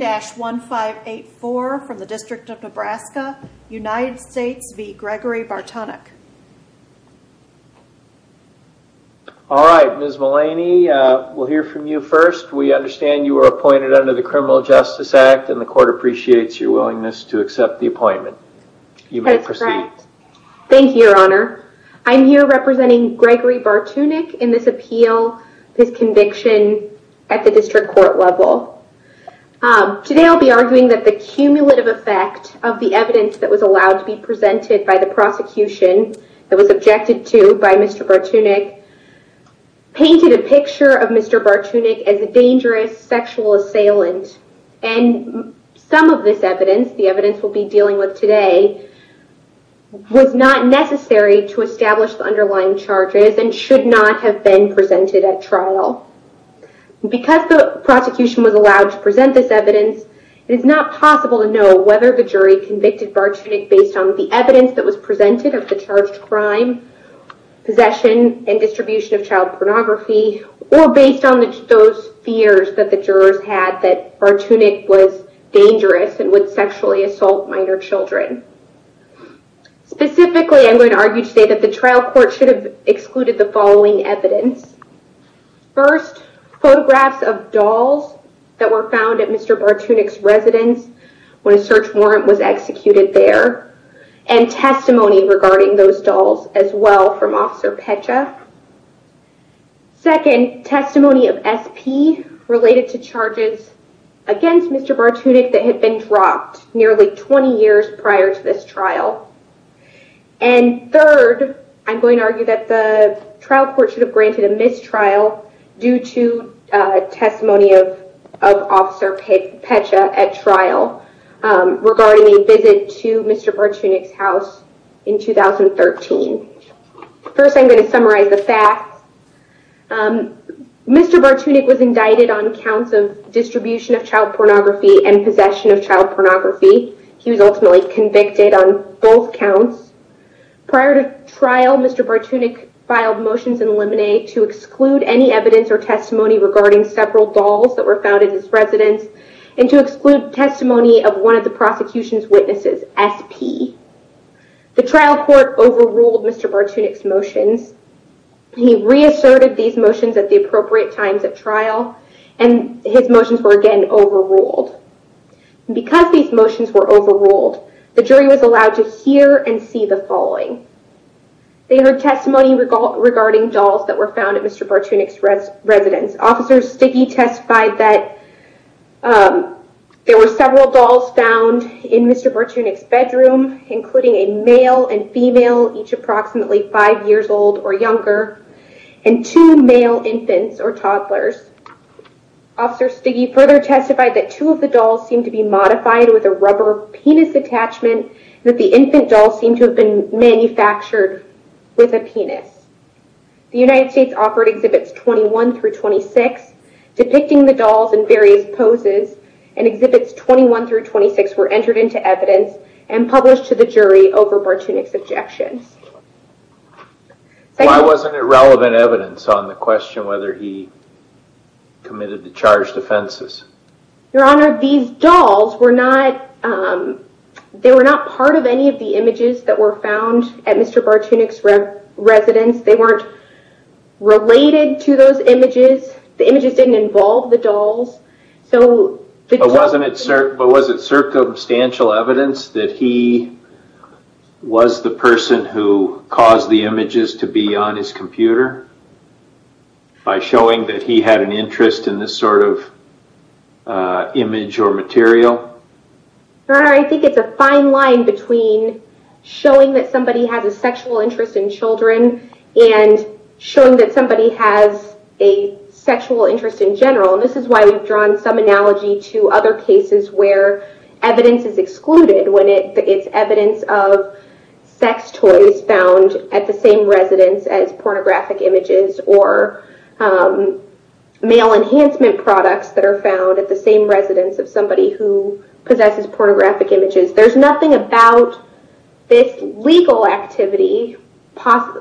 All right, Ms. Mullaney, we'll hear from you first. We understand you were appointed under the Criminal Justice Act and the court appreciates your willingness to accept the appointment. You may proceed. Thank you, Your Honor. I'm here representing Gregory Bartunek in this appeal, this conviction at the district court level. Today I'll be arguing that the cumulative effect of the evidence that was allowed to be presented by the prosecution that was objected to by Mr. Bartunek painted a picture of Mr. Bartunek as a dangerous sexual assailant. And some of this evidence, the evidence we'll be dealing with today, was not necessary to establish the underlying charges and should not have been presented at trial. Because the prosecution was allowed to present this evidence, it is not possible to know whether the jury convicted Bartunek based on the evidence that was presented of the charged crime, possession, and distribution of child pornography, or based on those fears that the jurors had that Bartunek was dangerous and would sexually assault minor children. Specifically, I'm going to argue today that the trial court should have excluded the following evidence. First, photographs of dolls that were found at Mr. Bartunek's residence when a search warrant was executed there and testimony regarding those dolls as well from Officer Pecha. Second, testimony of SP related to charges against Mr. Bartunek that had been dropped nearly 20 years prior to this trial. And third, I'm going to argue that the trial court should have granted a mistrial due to testimony of Officer Pecha at trial regarding a visit to Mr. Bartunek's house in 2013. First, I'm going to summarize the facts. Mr. Bartunek was indicted on counts of distribution of child pornography, both counts. Prior to trial, Mr. Bartunek filed motions in limine to exclude any evidence or testimony regarding several dolls that were found in his residence and to exclude testimony of one of the prosecution's witnesses, SP. The trial court overruled Mr. Bartunek's motions. He reasserted these motions at the appropriate times at trial and his motions were again overruled. And because these motions were overruled, the jury was allowed to hear and see the following. They heard testimony regarding dolls that were found at Mr. Bartunek's residence. Officer Stigge testified that there were several dolls found in Mr. Bartunek's bedroom, including a male and female, each approximately five years old or younger, and two male infants or toddlers. Officer Stigge further testified that two of the dolls seemed to be modified with a rubber penis attachment and that the infant dolls seemed to have been manufactured with a penis. The United States offered exhibits 21 through 26, depicting the dolls in various poses, and exhibits 21 through 26 were entered into evidence and published to the jury over Mr. Bartunek's objections. Why wasn't it relevant evidence on the question whether he committed the charged offenses? Your Honor, these dolls were not, they were not part of any of the images that were found at Mr. Bartunek's residence. They weren't related to those images. The images didn't involve the dolls. But was it circumstantial evidence that he was the person who caused the images to be on his computer by showing that he had an interest in this sort of image or material? Your Honor, I think it's a fine line between showing that somebody has a sexual interest in children and showing that somebody has a sexual interest in general. This is why we've drawn some analogy to other cases where evidence is excluded when it's evidence of sex toys found at the same residence as pornographic images or male enhancement products that are found at the same residence of somebody who possesses pornographic images. There's nothing about this legal activity, the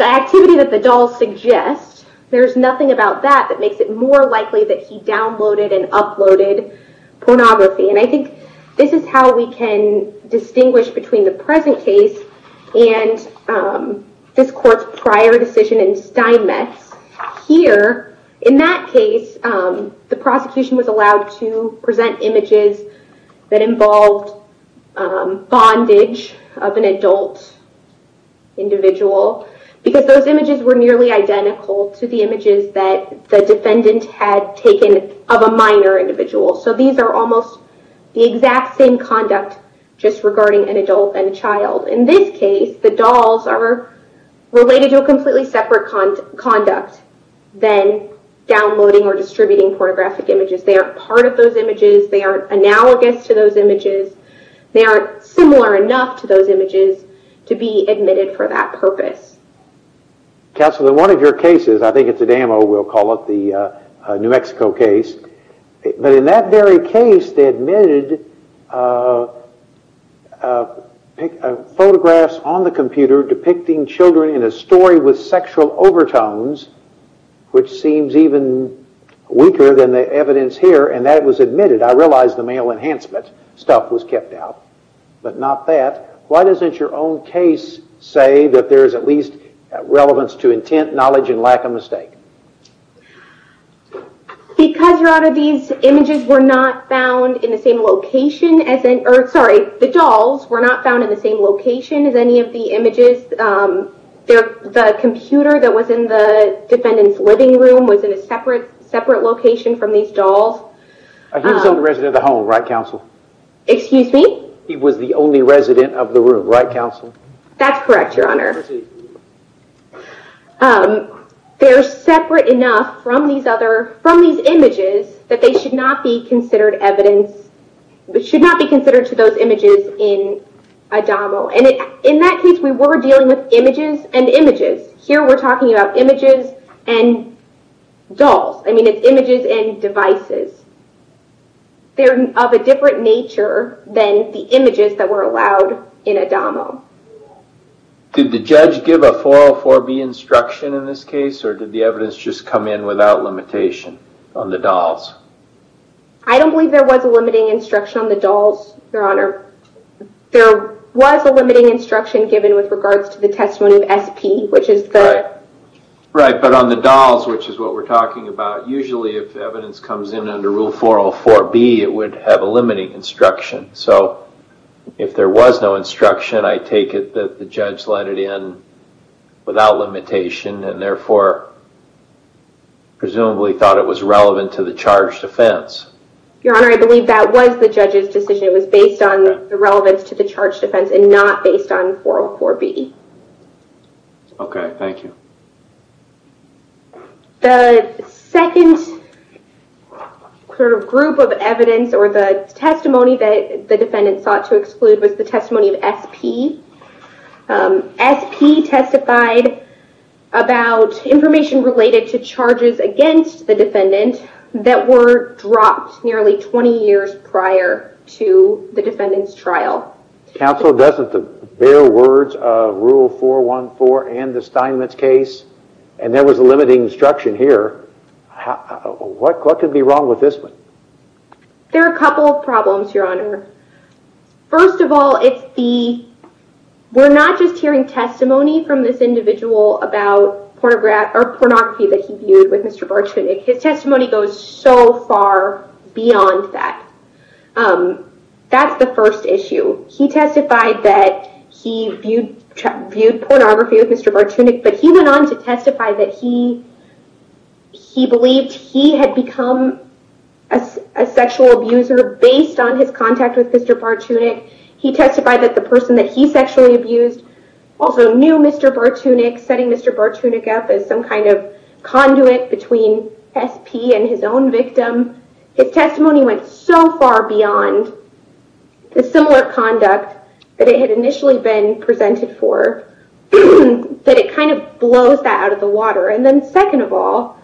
activity that the dolls suggest, there's nothing about that that makes it more likely that he downloaded and uploaded pornography. I think this is how we can distinguish between the present case and this court's prior decision in Steinmetz. Here, in that case, the prosecution was allowed to present images that involved bondage of an adult individual because those images were minor individuals. So these are almost the exact same conduct just regarding an adult and a child. In this case, the dolls are related to a completely separate conduct than downloading or distributing pornographic images. They are part of those images, they are analogous to those images, they are similar enough to those images to be admitted for that purpose. Counselor, in one of your cases, I think it's a demo, we'll call it, the New Mexico case, but in that very case they admitted photographs on the computer depicting children in a story with sexual overtones, which seems even weaker than the evidence here, and that was admitted. I realize the male enhancement stuff was kept out, but not that. Why doesn't your own case say that there is at least relevance to intent, knowledge, and lack of mistake? Because these images were not found in the same location, or sorry, the dolls were not found in the same location as any of the images. The computer that was in the defendant's living room was in a separate location from these dolls. He was the only resident of the home, right Counsel? Excuse me? He was the only resident of the room, right Counsel? That's correct, Your Honor. They're separate enough from these images that they should not be considered evidence, should not be considered to those images in ADAMO, and in that case we were dealing with images and images. Here we're talking about images and dolls. I mean, it's images and devices. They're of a different nature than the images that were allowed in ADAMO. Did the judge give a 404B instruction in this case, or did the evidence just come in without limitation on the dolls? I don't believe there was a limiting instruction on the dolls, Your Honor. There was a limiting instruction given with regards to the testimony of SP, which is the... Right, but on the dolls, which is what we're talking about, usually if evidence comes in under Rule 404B, it would have a limiting instruction, so if there was no instruction, I take it that the judge let it in without limitation, and therefore presumably thought it was relevant to the charge defense. Your Honor, I believe that was the judge's decision. It was based on the relevance to the charge defense and not based on 404B. Okay, thank you. The second group of evidence or the testimony that the defendant sought to exclude was the testimony of SP. SP testified about information related to charges against the defendant that were dropped nearly 20 years prior to the defendant's trial. Counsel doesn't bear words of Rule 414 and the Steinmetz case, and there was a limiting instruction here. What could be wrong with this one? There are a couple of problems, Your Honor. First of all, it's the... We're not just hearing testimony from this individual about pornography that he viewed with Mr. Bartunek. His testimony goes so far beyond that. That's the first issue. He testified that he viewed pornography with Mr. Bartunek, but he went on to testify that he believed he had become a sexual abuser based on his contact with Mr. Bartunek. He testified that the person that he sexually abused also knew Mr. Bartunek, setting Mr. Bartunek up as some kind of conduit between SP and his own victim. His testimony went so far beyond the similar conduct that it had initially been presented for that it kind of blows that out of the water. Second of all,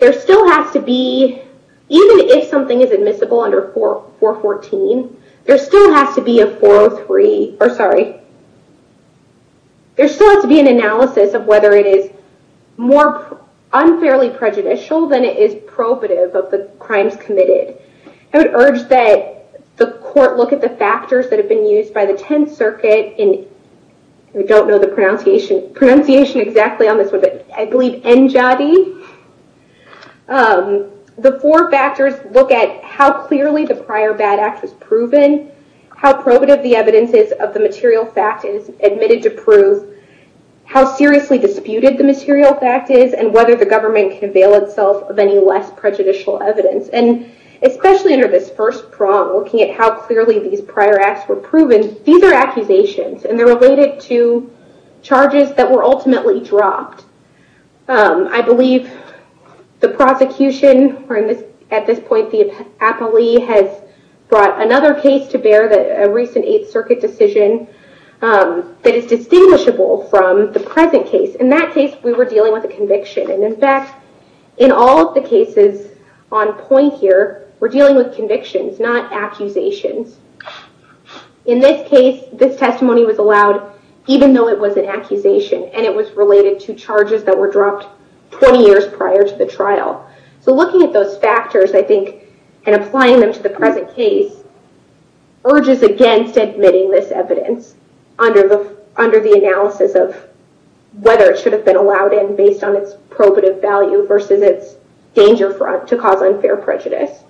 there still has to be, even if something is admissible under 414, there still has to be a 403... Sorry. There still has to be an analysis of whether it is more unfairly prejudicial than it is probative of the crimes committed. I would urge that the court look at the factors that have been used by the Tenth Circuit in... I don't know the pronunciation exactly on this one, but I believe NJOTI. The four factors look at how clearly the prior bad act was proven, how probative the evidence is of the material fact is admitted to prove, how seriously disputed the material fact is, and whether the government can avail itself of any less prejudicial evidence. Especially under this first prong, looking at how clearly these prior acts were proven, these are accusations and they're related to charges that were ultimately dropped. I believe the prosecution, or at this point, the appellee has brought another case to bear, a recent Eighth Circuit decision that is distinguishable from the present case. In that case, we were dealing with a conviction. In fact, in all the cases on point here, we're dealing with convictions, not accusations. In this case, this testimony was allowed even though it was an accusation, and it was related to charges that were dropped 20 years prior to the trial. Looking at those factors, I think, and applying them to the present case, urges against admitting this evidence under the analysis of whether it should have been allowed in based on its probative value versus its danger front to cause unfair prejudice.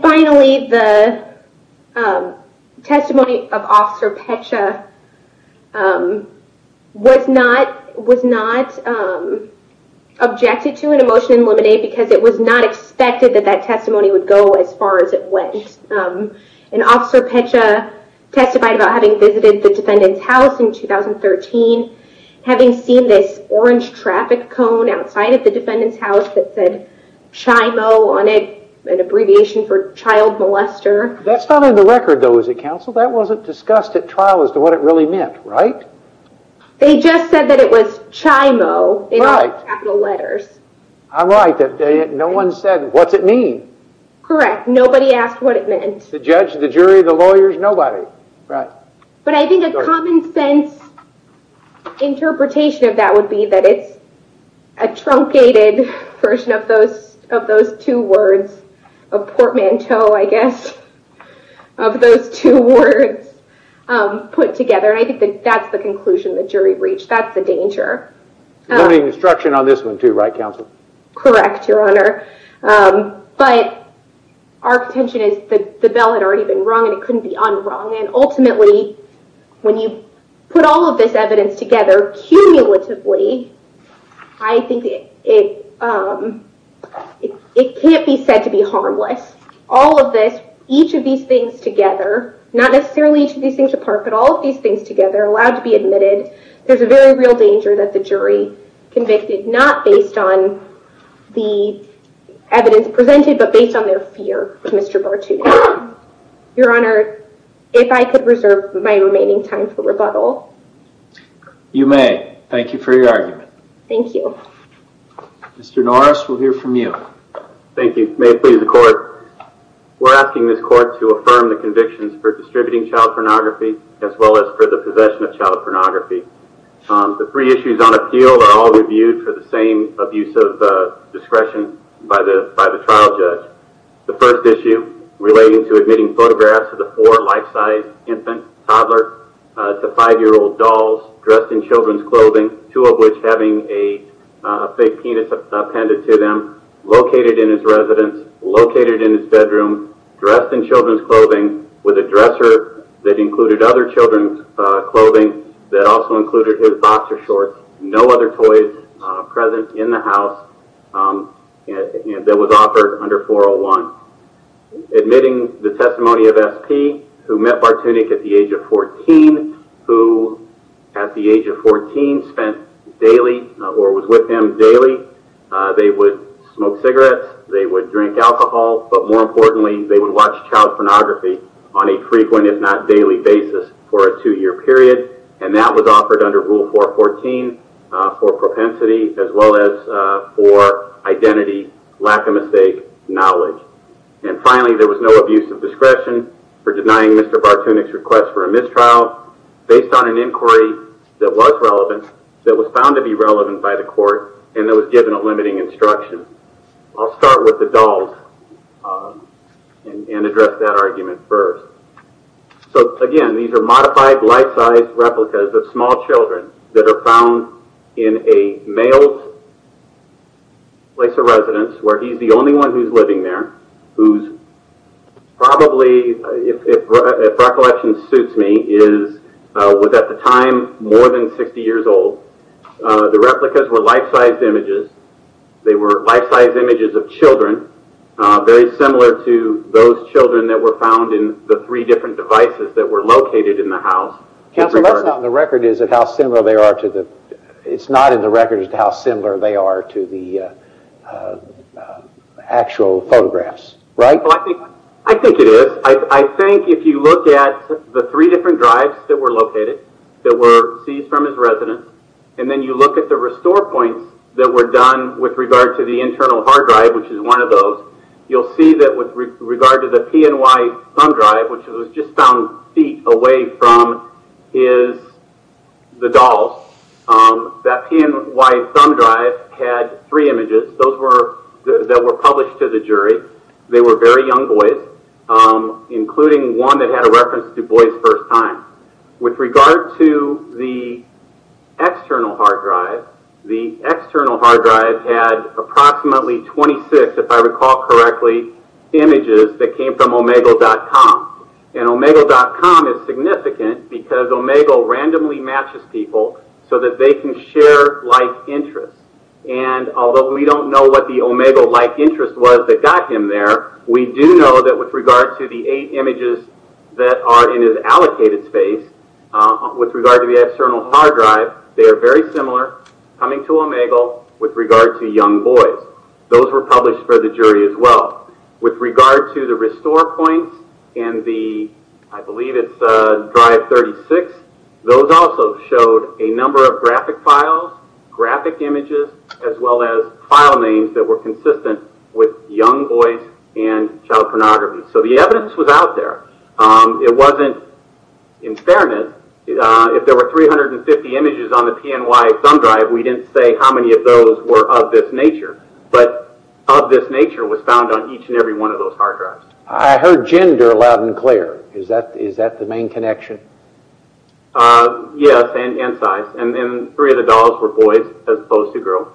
Finally, the testimony of Officer Pecha was not objected to in a motion in limine, because it was not expected that that testimony would go as far as it went. Officer Pecha testified about having visited the defendant's house in 2013, having seen this orange traffic cone outside of the defendant's house that said CHIMO on it, an abbreviation for child molester. That's not in the record, though, is it, counsel? That wasn't discussed at trial as to what it really meant, right? They just said that it was CHIMO in all capital letters. I'm right. No one said, what's it mean? Correct. Nobody asked what it meant. The judge, the jury, the lawyers, nobody. But I think a common sense interpretation of that would be that it's a truncated version of those two words, a portmanteau, I guess, of those two words put together. I think that that's the conclusion the jury reached. That's the danger. Limiting instruction on this one, too, right, Your Honor? But our contention is that the bell had already been rung and it couldn't be un-rung. Ultimately, when you put all of this evidence together cumulatively, I think it can't be said to be harmless. All of this, each of these things together, not necessarily each of these things apart, but all of these things together, allowed to be admitted, there's a very real danger that the jury convicted, not based on the evidence presented, but based on their fear of Mr. Bartuni. Your Honor, if I could reserve my remaining time for rebuttal. You may. Thank you for your argument. Thank you. Mr. Norris, we'll hear from you. Thank you. May it please the court. We're asking this court to affirm the convictions for distributing child pornography as well as for the possession of child pornography. The three issues on appeal are all reviewed for the same abuse of discretion by the trial judge. The first issue relating to admitting photographs of the four life-size infant, toddler, to five-year-old dolls dressed in children's clothing, two of which having a fake penis appended to them, located in his residence, located in his bedroom, dressed in children's clothing with a dresser that also included his boxer shorts, no other toys present in the house, and that was offered under 401. Admitting the testimony of SP, who met Bartuni at the age of 14, who at the age of 14 spent daily, or was with him daily, they would smoke cigarettes, they would drink alcohol, but more importantly, they would watch child pornography on a frequent, if they were a two-year period, and that was offered under Rule 414 for propensity as well as for identity, lack of mistake, knowledge. And finally, there was no abuse of discretion for denying Mr. Bartuni's request for a mistrial based on an inquiry that was relevant, that was found to be relevant by the court, and that was given a limiting instruction. I'll start with the dolls and address that argument first. So again, these are modified life-size replicas of small children that are found in a male's place of residence, where he's the only one who's living there, who's probably, if recollection suits me, is at the time more than 60 years old. The replicas were life-size images. They were life-size images of children, very similar to those children that were found in the three different devices that were located in the house. Counsel, that's not in the record, is it, how similar they are to the actual photographs, right? Well, I think it is. I think if you look at the three different drives that were located, that were seized from his residence, and then you look at the restore points that were done with regard to the internal hard drive, which was just found feet away from the dolls, that PNY thumb drive had three images that were published to the jury. They were very young boys, including one that had a reference to Du Bois' first time. With regard to the external hard drive, the external hard drive had approximately 26, if I recall correctly, images that came from Du Bois. And Omegle.com is significant because Omegle randomly matches people so that they can share like interests. And although we don't know what the Omegle like interest was that got him there, we do know that with regard to the eight images that are in his allocated space, with regard to the external hard drive, they are very similar, coming to Omegle, with regard to young boys. Those were published for the jury as well. With regard to the restore points and the, I believe it's drive 36, those also showed a number of graphic files, graphic images, as well as file names that were consistent with young boys and child pornography. So the evidence was out there. It wasn't, in fairness, if there were 350 images on the PNY thumb drive, we didn't say how many of those were of this nature. But of this nature was found on each and every one of those hard drives. I heard gender loud and clear. Is that the main connection? Yes, and size. And three of the dolls were boys as opposed to girls.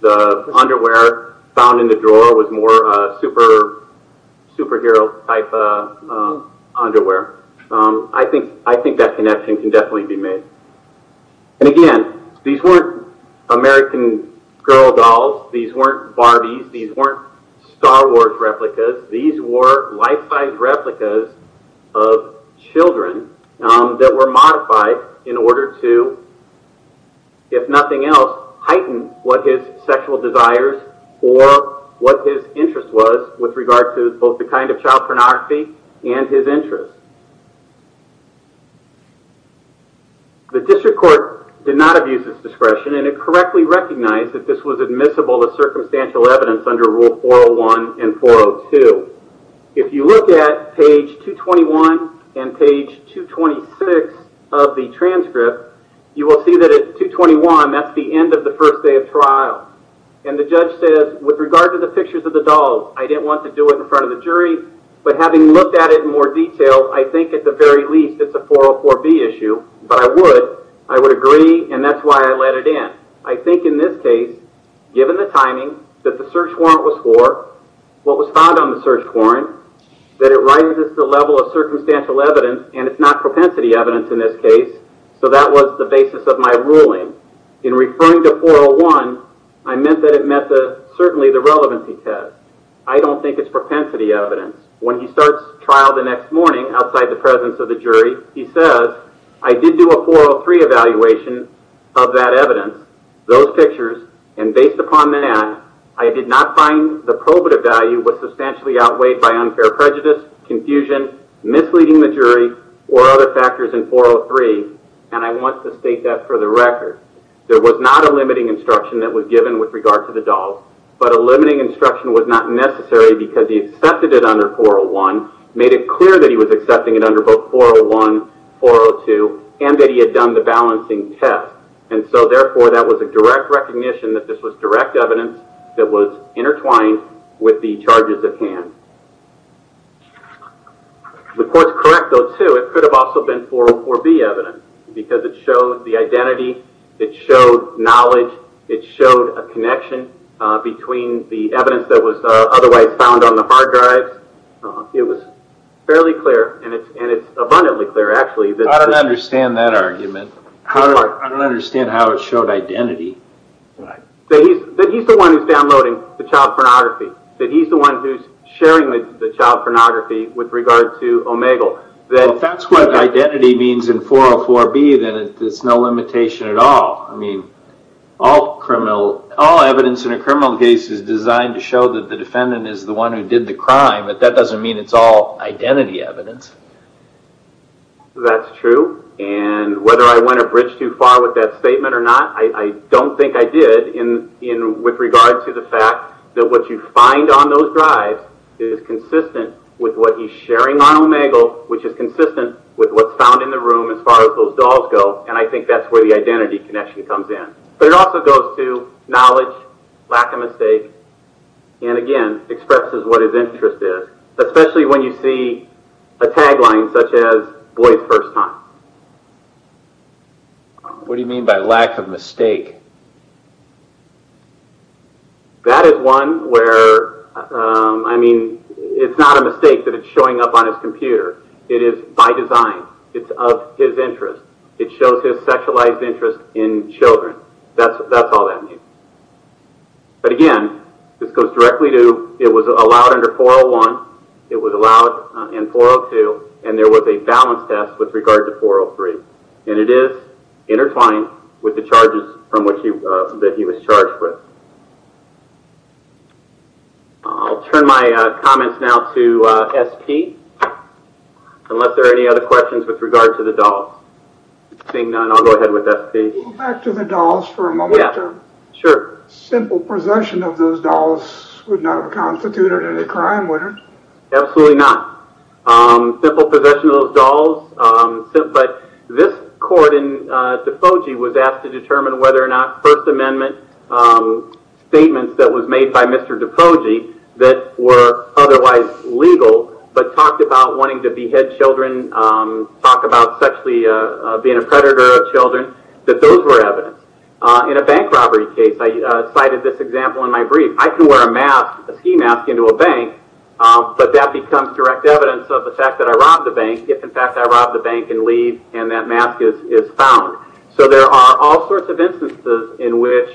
The underwear found in the drawer was more superhero type underwear. I think that connection can definitely be made. And again, these weren't American girl dolls. These weren't Barbies. These weren't Star Wars replicas. These were life size replicas of children that were modified in order to, if nothing else, heighten what his sexual desires or what his interest was with regard to both the kind of child pornography and his interest. The district court did not abuse its discretion and it correctly recognized that this was admissible as circumstantial evidence under Rule 401 and 402. If you look at page 221 and page 226 of the transcript, you will see that at 221, that's the end of the first day of trial. And the judge says, with regard to the pictures of the dolls, I didn't want to do it in front of the jury, but having looked at it in more detail, I think at the very least it's a 404B issue. But I would. I would agree and that's why I let it in. I think in this case, given the timing that the search warrant was for, what was found on the search warrant, that it rises to the level of circumstantial evidence and it's not propensity evidence in this case. So that was the basis of my ruling. In referring to 401, I meant that it met certainly the relevancy test. I don't think it's propensity evidence. When he starts trial the next morning outside the presence of the jury, he says, I did do a 403 evaluation of that evidence, those pictures, and based upon that, I did not find the probative value was substantially outweighed by unfair prejudice, confusion, misleading the jury, or other factors in 403. And I want to state that for the record. There was not a limiting instruction that was given with regard to the dog, but a limiting instruction was not necessary because he accepted it under 401, made it clear that he was accepting it under both 401, 402, and that he had done the balancing test. And so therefore that was a direct recognition that this was direct evidence that was intertwined with the charges at hand. The court's correct though too, it could have also been 404B evidence because it showed the identity, it showed knowledge, it showed a connection between the evidence that was otherwise found on the hard drives. It was fairly clear, and it's abundantly clear actually. I don't understand that argument. I don't understand how it showed identity. That he's the one who's downloading the child pornography, that he's the one who's sharing the child pornography with regard to Omegle. If that's what identity means in 404B, then it's no limitation at all. I mean, all evidence in a criminal case is designed to show that the defendant is the one who did the crime, but that doesn't mean it's all identity evidence. That's true, and whether I went a bridge too far with that statement or not, I don't think I did with regard to the fact that what you see is sharing on Omegle, which is consistent with what's found in the room as far as those dolls go, and I think that's where the identity connection comes in. But it also goes to knowledge, lack of mistake, and again, expresses what his interest is, especially when you see a tagline such as, boy's first time. What do you mean by lack of mistake? That is one where, I mean, it's not a mistake that it's showing up on his computer. It is by design. It's of his interest. It shows his sexualized interest in children. That's all that means. But again, this goes directly to it was allowed under 401, it was allowed in 402, and there was a balance test with regard to 403, and it is intertwined with the charges that he was charged with. I'll turn my comments now to S.P. unless there are any other questions with regard to the dolls. Seeing none, I'll go ahead with S.P. Can we go back to the dolls for a moment? Yeah, sure. Simple possession of those dolls would not have constituted any crime, would it? Absolutely not. Simple possession of those dolls, but this court in Defogey was asked to determine whether or not First Amendment statements that was made by Mr. Defogey that were otherwise legal, but talked about wanting to behead children, talk about sexually being a predator of children, that those were evidence. In a bank robbery case, I cited this example in my brief. I can wear a mask, a ski mask, into a bank, but that becomes direct evidence of the fact that I robbed the bank if, in fact, I robbed the bank and leave and that all sorts of instances in which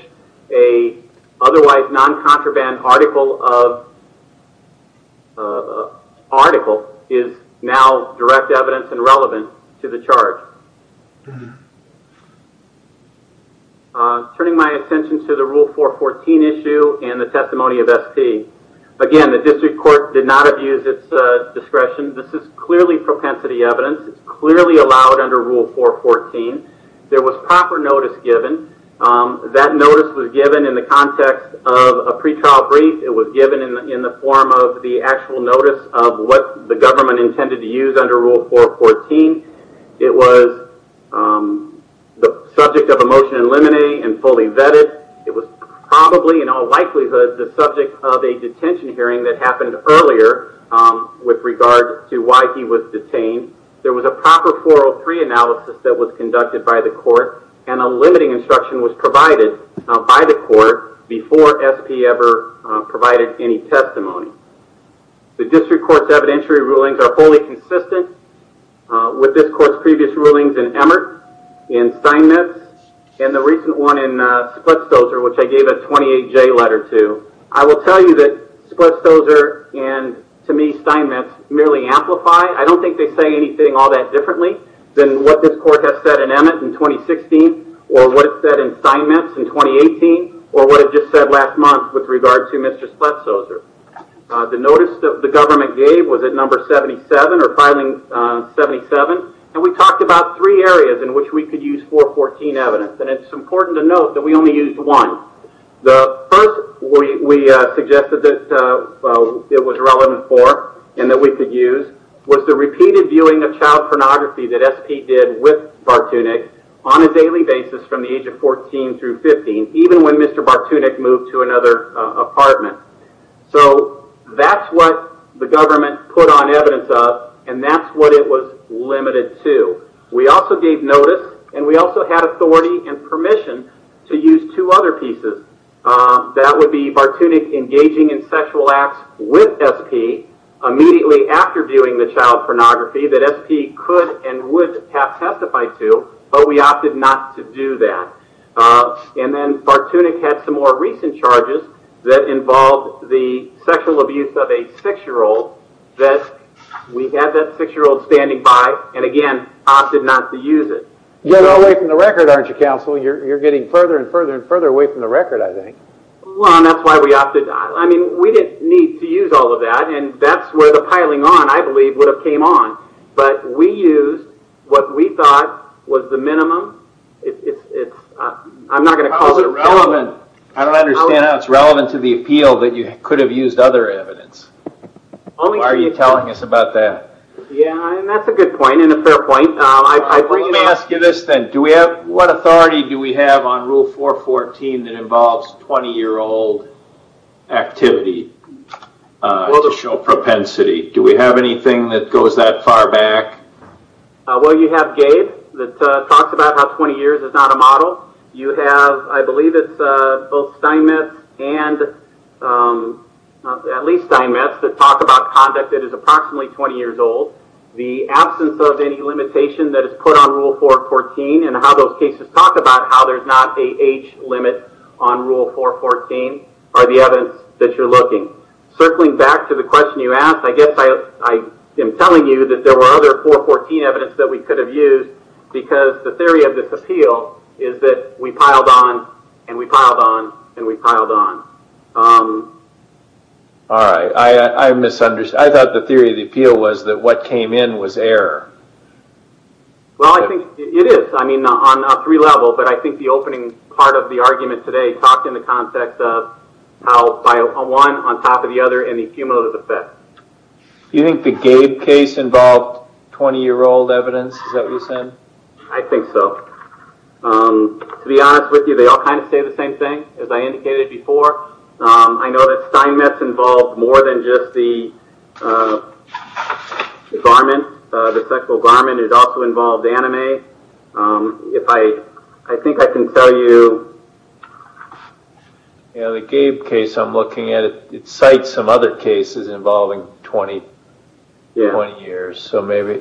a otherwise non-contraband article is now direct evidence and relevant to the charge. Turning my attention to the Rule 414 issue and the testimony of S.P., again, the district court did not abuse its discretion. This is clearly propensity evidence. It's clearly allowed under Rule 414. There was proper notice given. That notice was given in the context of a pretrial brief. It was given in the form of the actual notice of what the government intended to use under Rule 414. It was the subject of a motion in limine and fully vetted. It was probably, in all likelihood, the subject of a detention hearing that happened earlier with regard to why he was detained. There was a proper 403 analysis that was conducted by the court and a limiting instruction was provided by the court before S.P. ever provided any testimony. The district court's evidentiary rulings are wholly consistent with this court's previous rulings in Emmert, in Steinmetz, and the recent one in Splitsdozer, which I gave a 28-J letter to. I will tell you that Splitsdozer and, to me, Steinmetz merely amplify. I don't think they say anything all that differently than what this court has said in Emmert in 2016 or what it said in Steinmetz in 2018 or what it just said last month with regard to Mr. Splitsdozer. The notice that the government gave was at number 77 or filing 77. We talked about three areas in which we could use 414 evidence. It's important to note that we only used one. The first we suggested that it was relevant for and that we could use was the repeated viewing of child pornography that S.P. did with Bartunek on a daily basis from the age of 14 through 15, even when Mr. Bartunek moved to another apartment. That's what the government put on evidence of and that's what it was limited to. We also gave notice and we also had authority and permission to use two other pieces. That would be Bartunek engaging in sexual acts with S.P. immediately after viewing the child pornography that S.P. could and would have testified to, but we opted not to do that. Bartunek had some more recent charges that involved the sexual abuse of a six-year-old that we had that six-year-old standing by and, again, opted not to use it. You're going away from the record, aren't you, counsel? You're getting further and further and further away from the record, I think. Well, that's why we opted not. We didn't need to use all of that and that's where the piling on, I believe, would have came on, but we used what we thought was the minimum. I'm not going to call it relevant. I don't understand how it's relevant to the appeal that you could have used other evidence. Why are you telling us about that? That's a good point and a fair point. Let me ask you this then. What authority do we have on Rule 414 that involves 20-year-old activity to show propensity? Do we have anything that goes that far back? You have Gabe that talks about how 20 years is not a model. You have, I believe it's both case timets that talk about conduct that is approximately 20 years old. The absence of any limitation that is put on Rule 414 and how those cases talk about how there's not a age limit on Rule 414 are the evidence that you're looking. Circling back to the question you asked, I guess I am telling you that there were other 414 evidence that we could have used because the theory of this appeal is that we piled on and we piled on and we piled on. All right. I misunderstood. I thought the theory of the appeal was that what came in was error. Well, I think it is. I mean, on a three-level, but I think the opening part of the argument today talked in the context of how one on top of the other and the cumulative effect. You think the Gabe case involved 20-year-old evidence? Is that what you're saying? I think so. To be honest with you, they all kind of say the same thing, as I indicated before. I know that Steinmetz involved more than just the garment, the sexual garment. It also involved anime. If I, I think I can tell you. Yeah, the Gabe case, I'm looking at it, it cites some other cases involving 20 years, so maybe.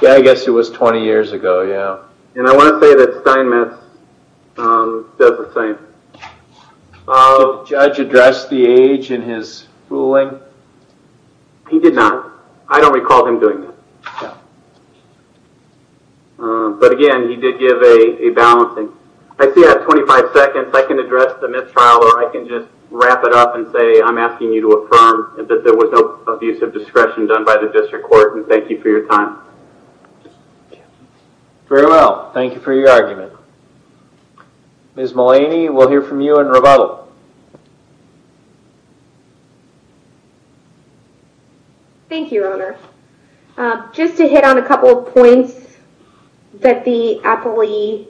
Yeah, I guess it was 20 years ago, yeah. I want to say that Steinmetz does the same. Did the judge address the age in his ruling? He did not. I don't recall him doing that. Again, he did give a balancing. I see at 25 seconds, I can address the mistrial or I can just wrap it up and say, I'm asking you to report, and thank you for your time. Very well. Thank you for your argument. Ms. Mullaney, we'll hear from you and Revalo. Thank you, Your Honor. Just to hit on a couple of points that the appellee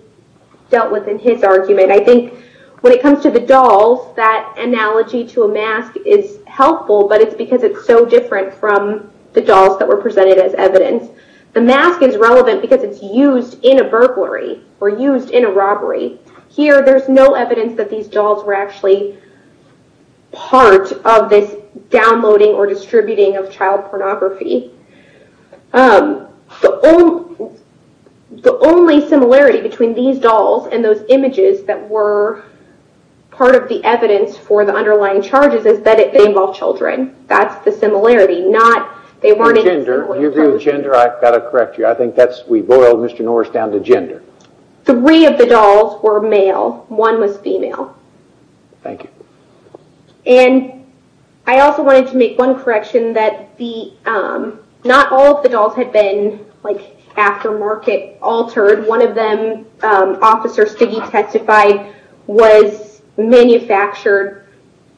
dealt with in his argument. I think when it comes to the dolls, that analogy to a mask is helpful, but it's because it's so different from the images presented as evidence. The mask is relevant because it's used in a burglary or used in a robbery. Here, there's no evidence that these dolls were actually part of this downloading or distributing of child pornography. The only similarity between these dolls and those images that were part of the evidence for the underlying charges is that they involve children. That's the similarity. You agree with gender? I've got to correct you. I think that's, we boiled Mr. Norris down to gender. Three of the dolls were male. One was female. Thank you. I also wanted to make one correction that not all of the dolls had been aftermarket altered. One of them, Officer Stiggy testified, was manufactured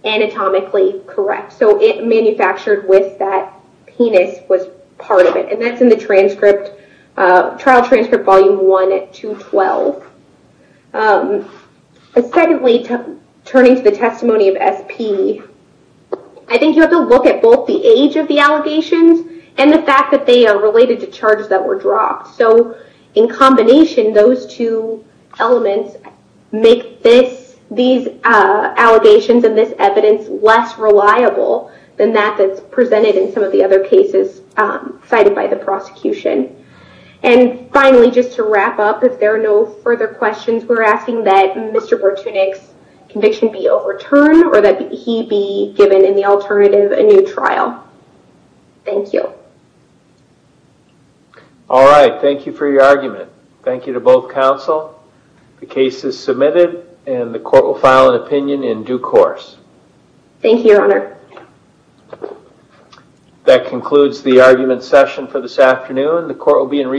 anatomically correct. It manufactured with that penis was part of it. That's in the trial transcript volume one at 212. Secondly, turning to the testimony of SP, I think you have to look at both the age of the allegations and the fact that they are related to charges that were dropped. In combination, those two elements make these allegations and this evidence less reliable than that that's presented in some of the other cases cited by the prosecution. Finally, just to wrap up, if there are no further questions, we're asking that Mr. Bertunek's conviction be overturned or that he be given in the alternative a new trial. Thank you. All right. Thank you for your argument. Thank you to both counsel. The case is submitted and the court will file an opinion in due course. Thank you, Your Honor. That concludes the argument session for this afternoon. The court will be in recess.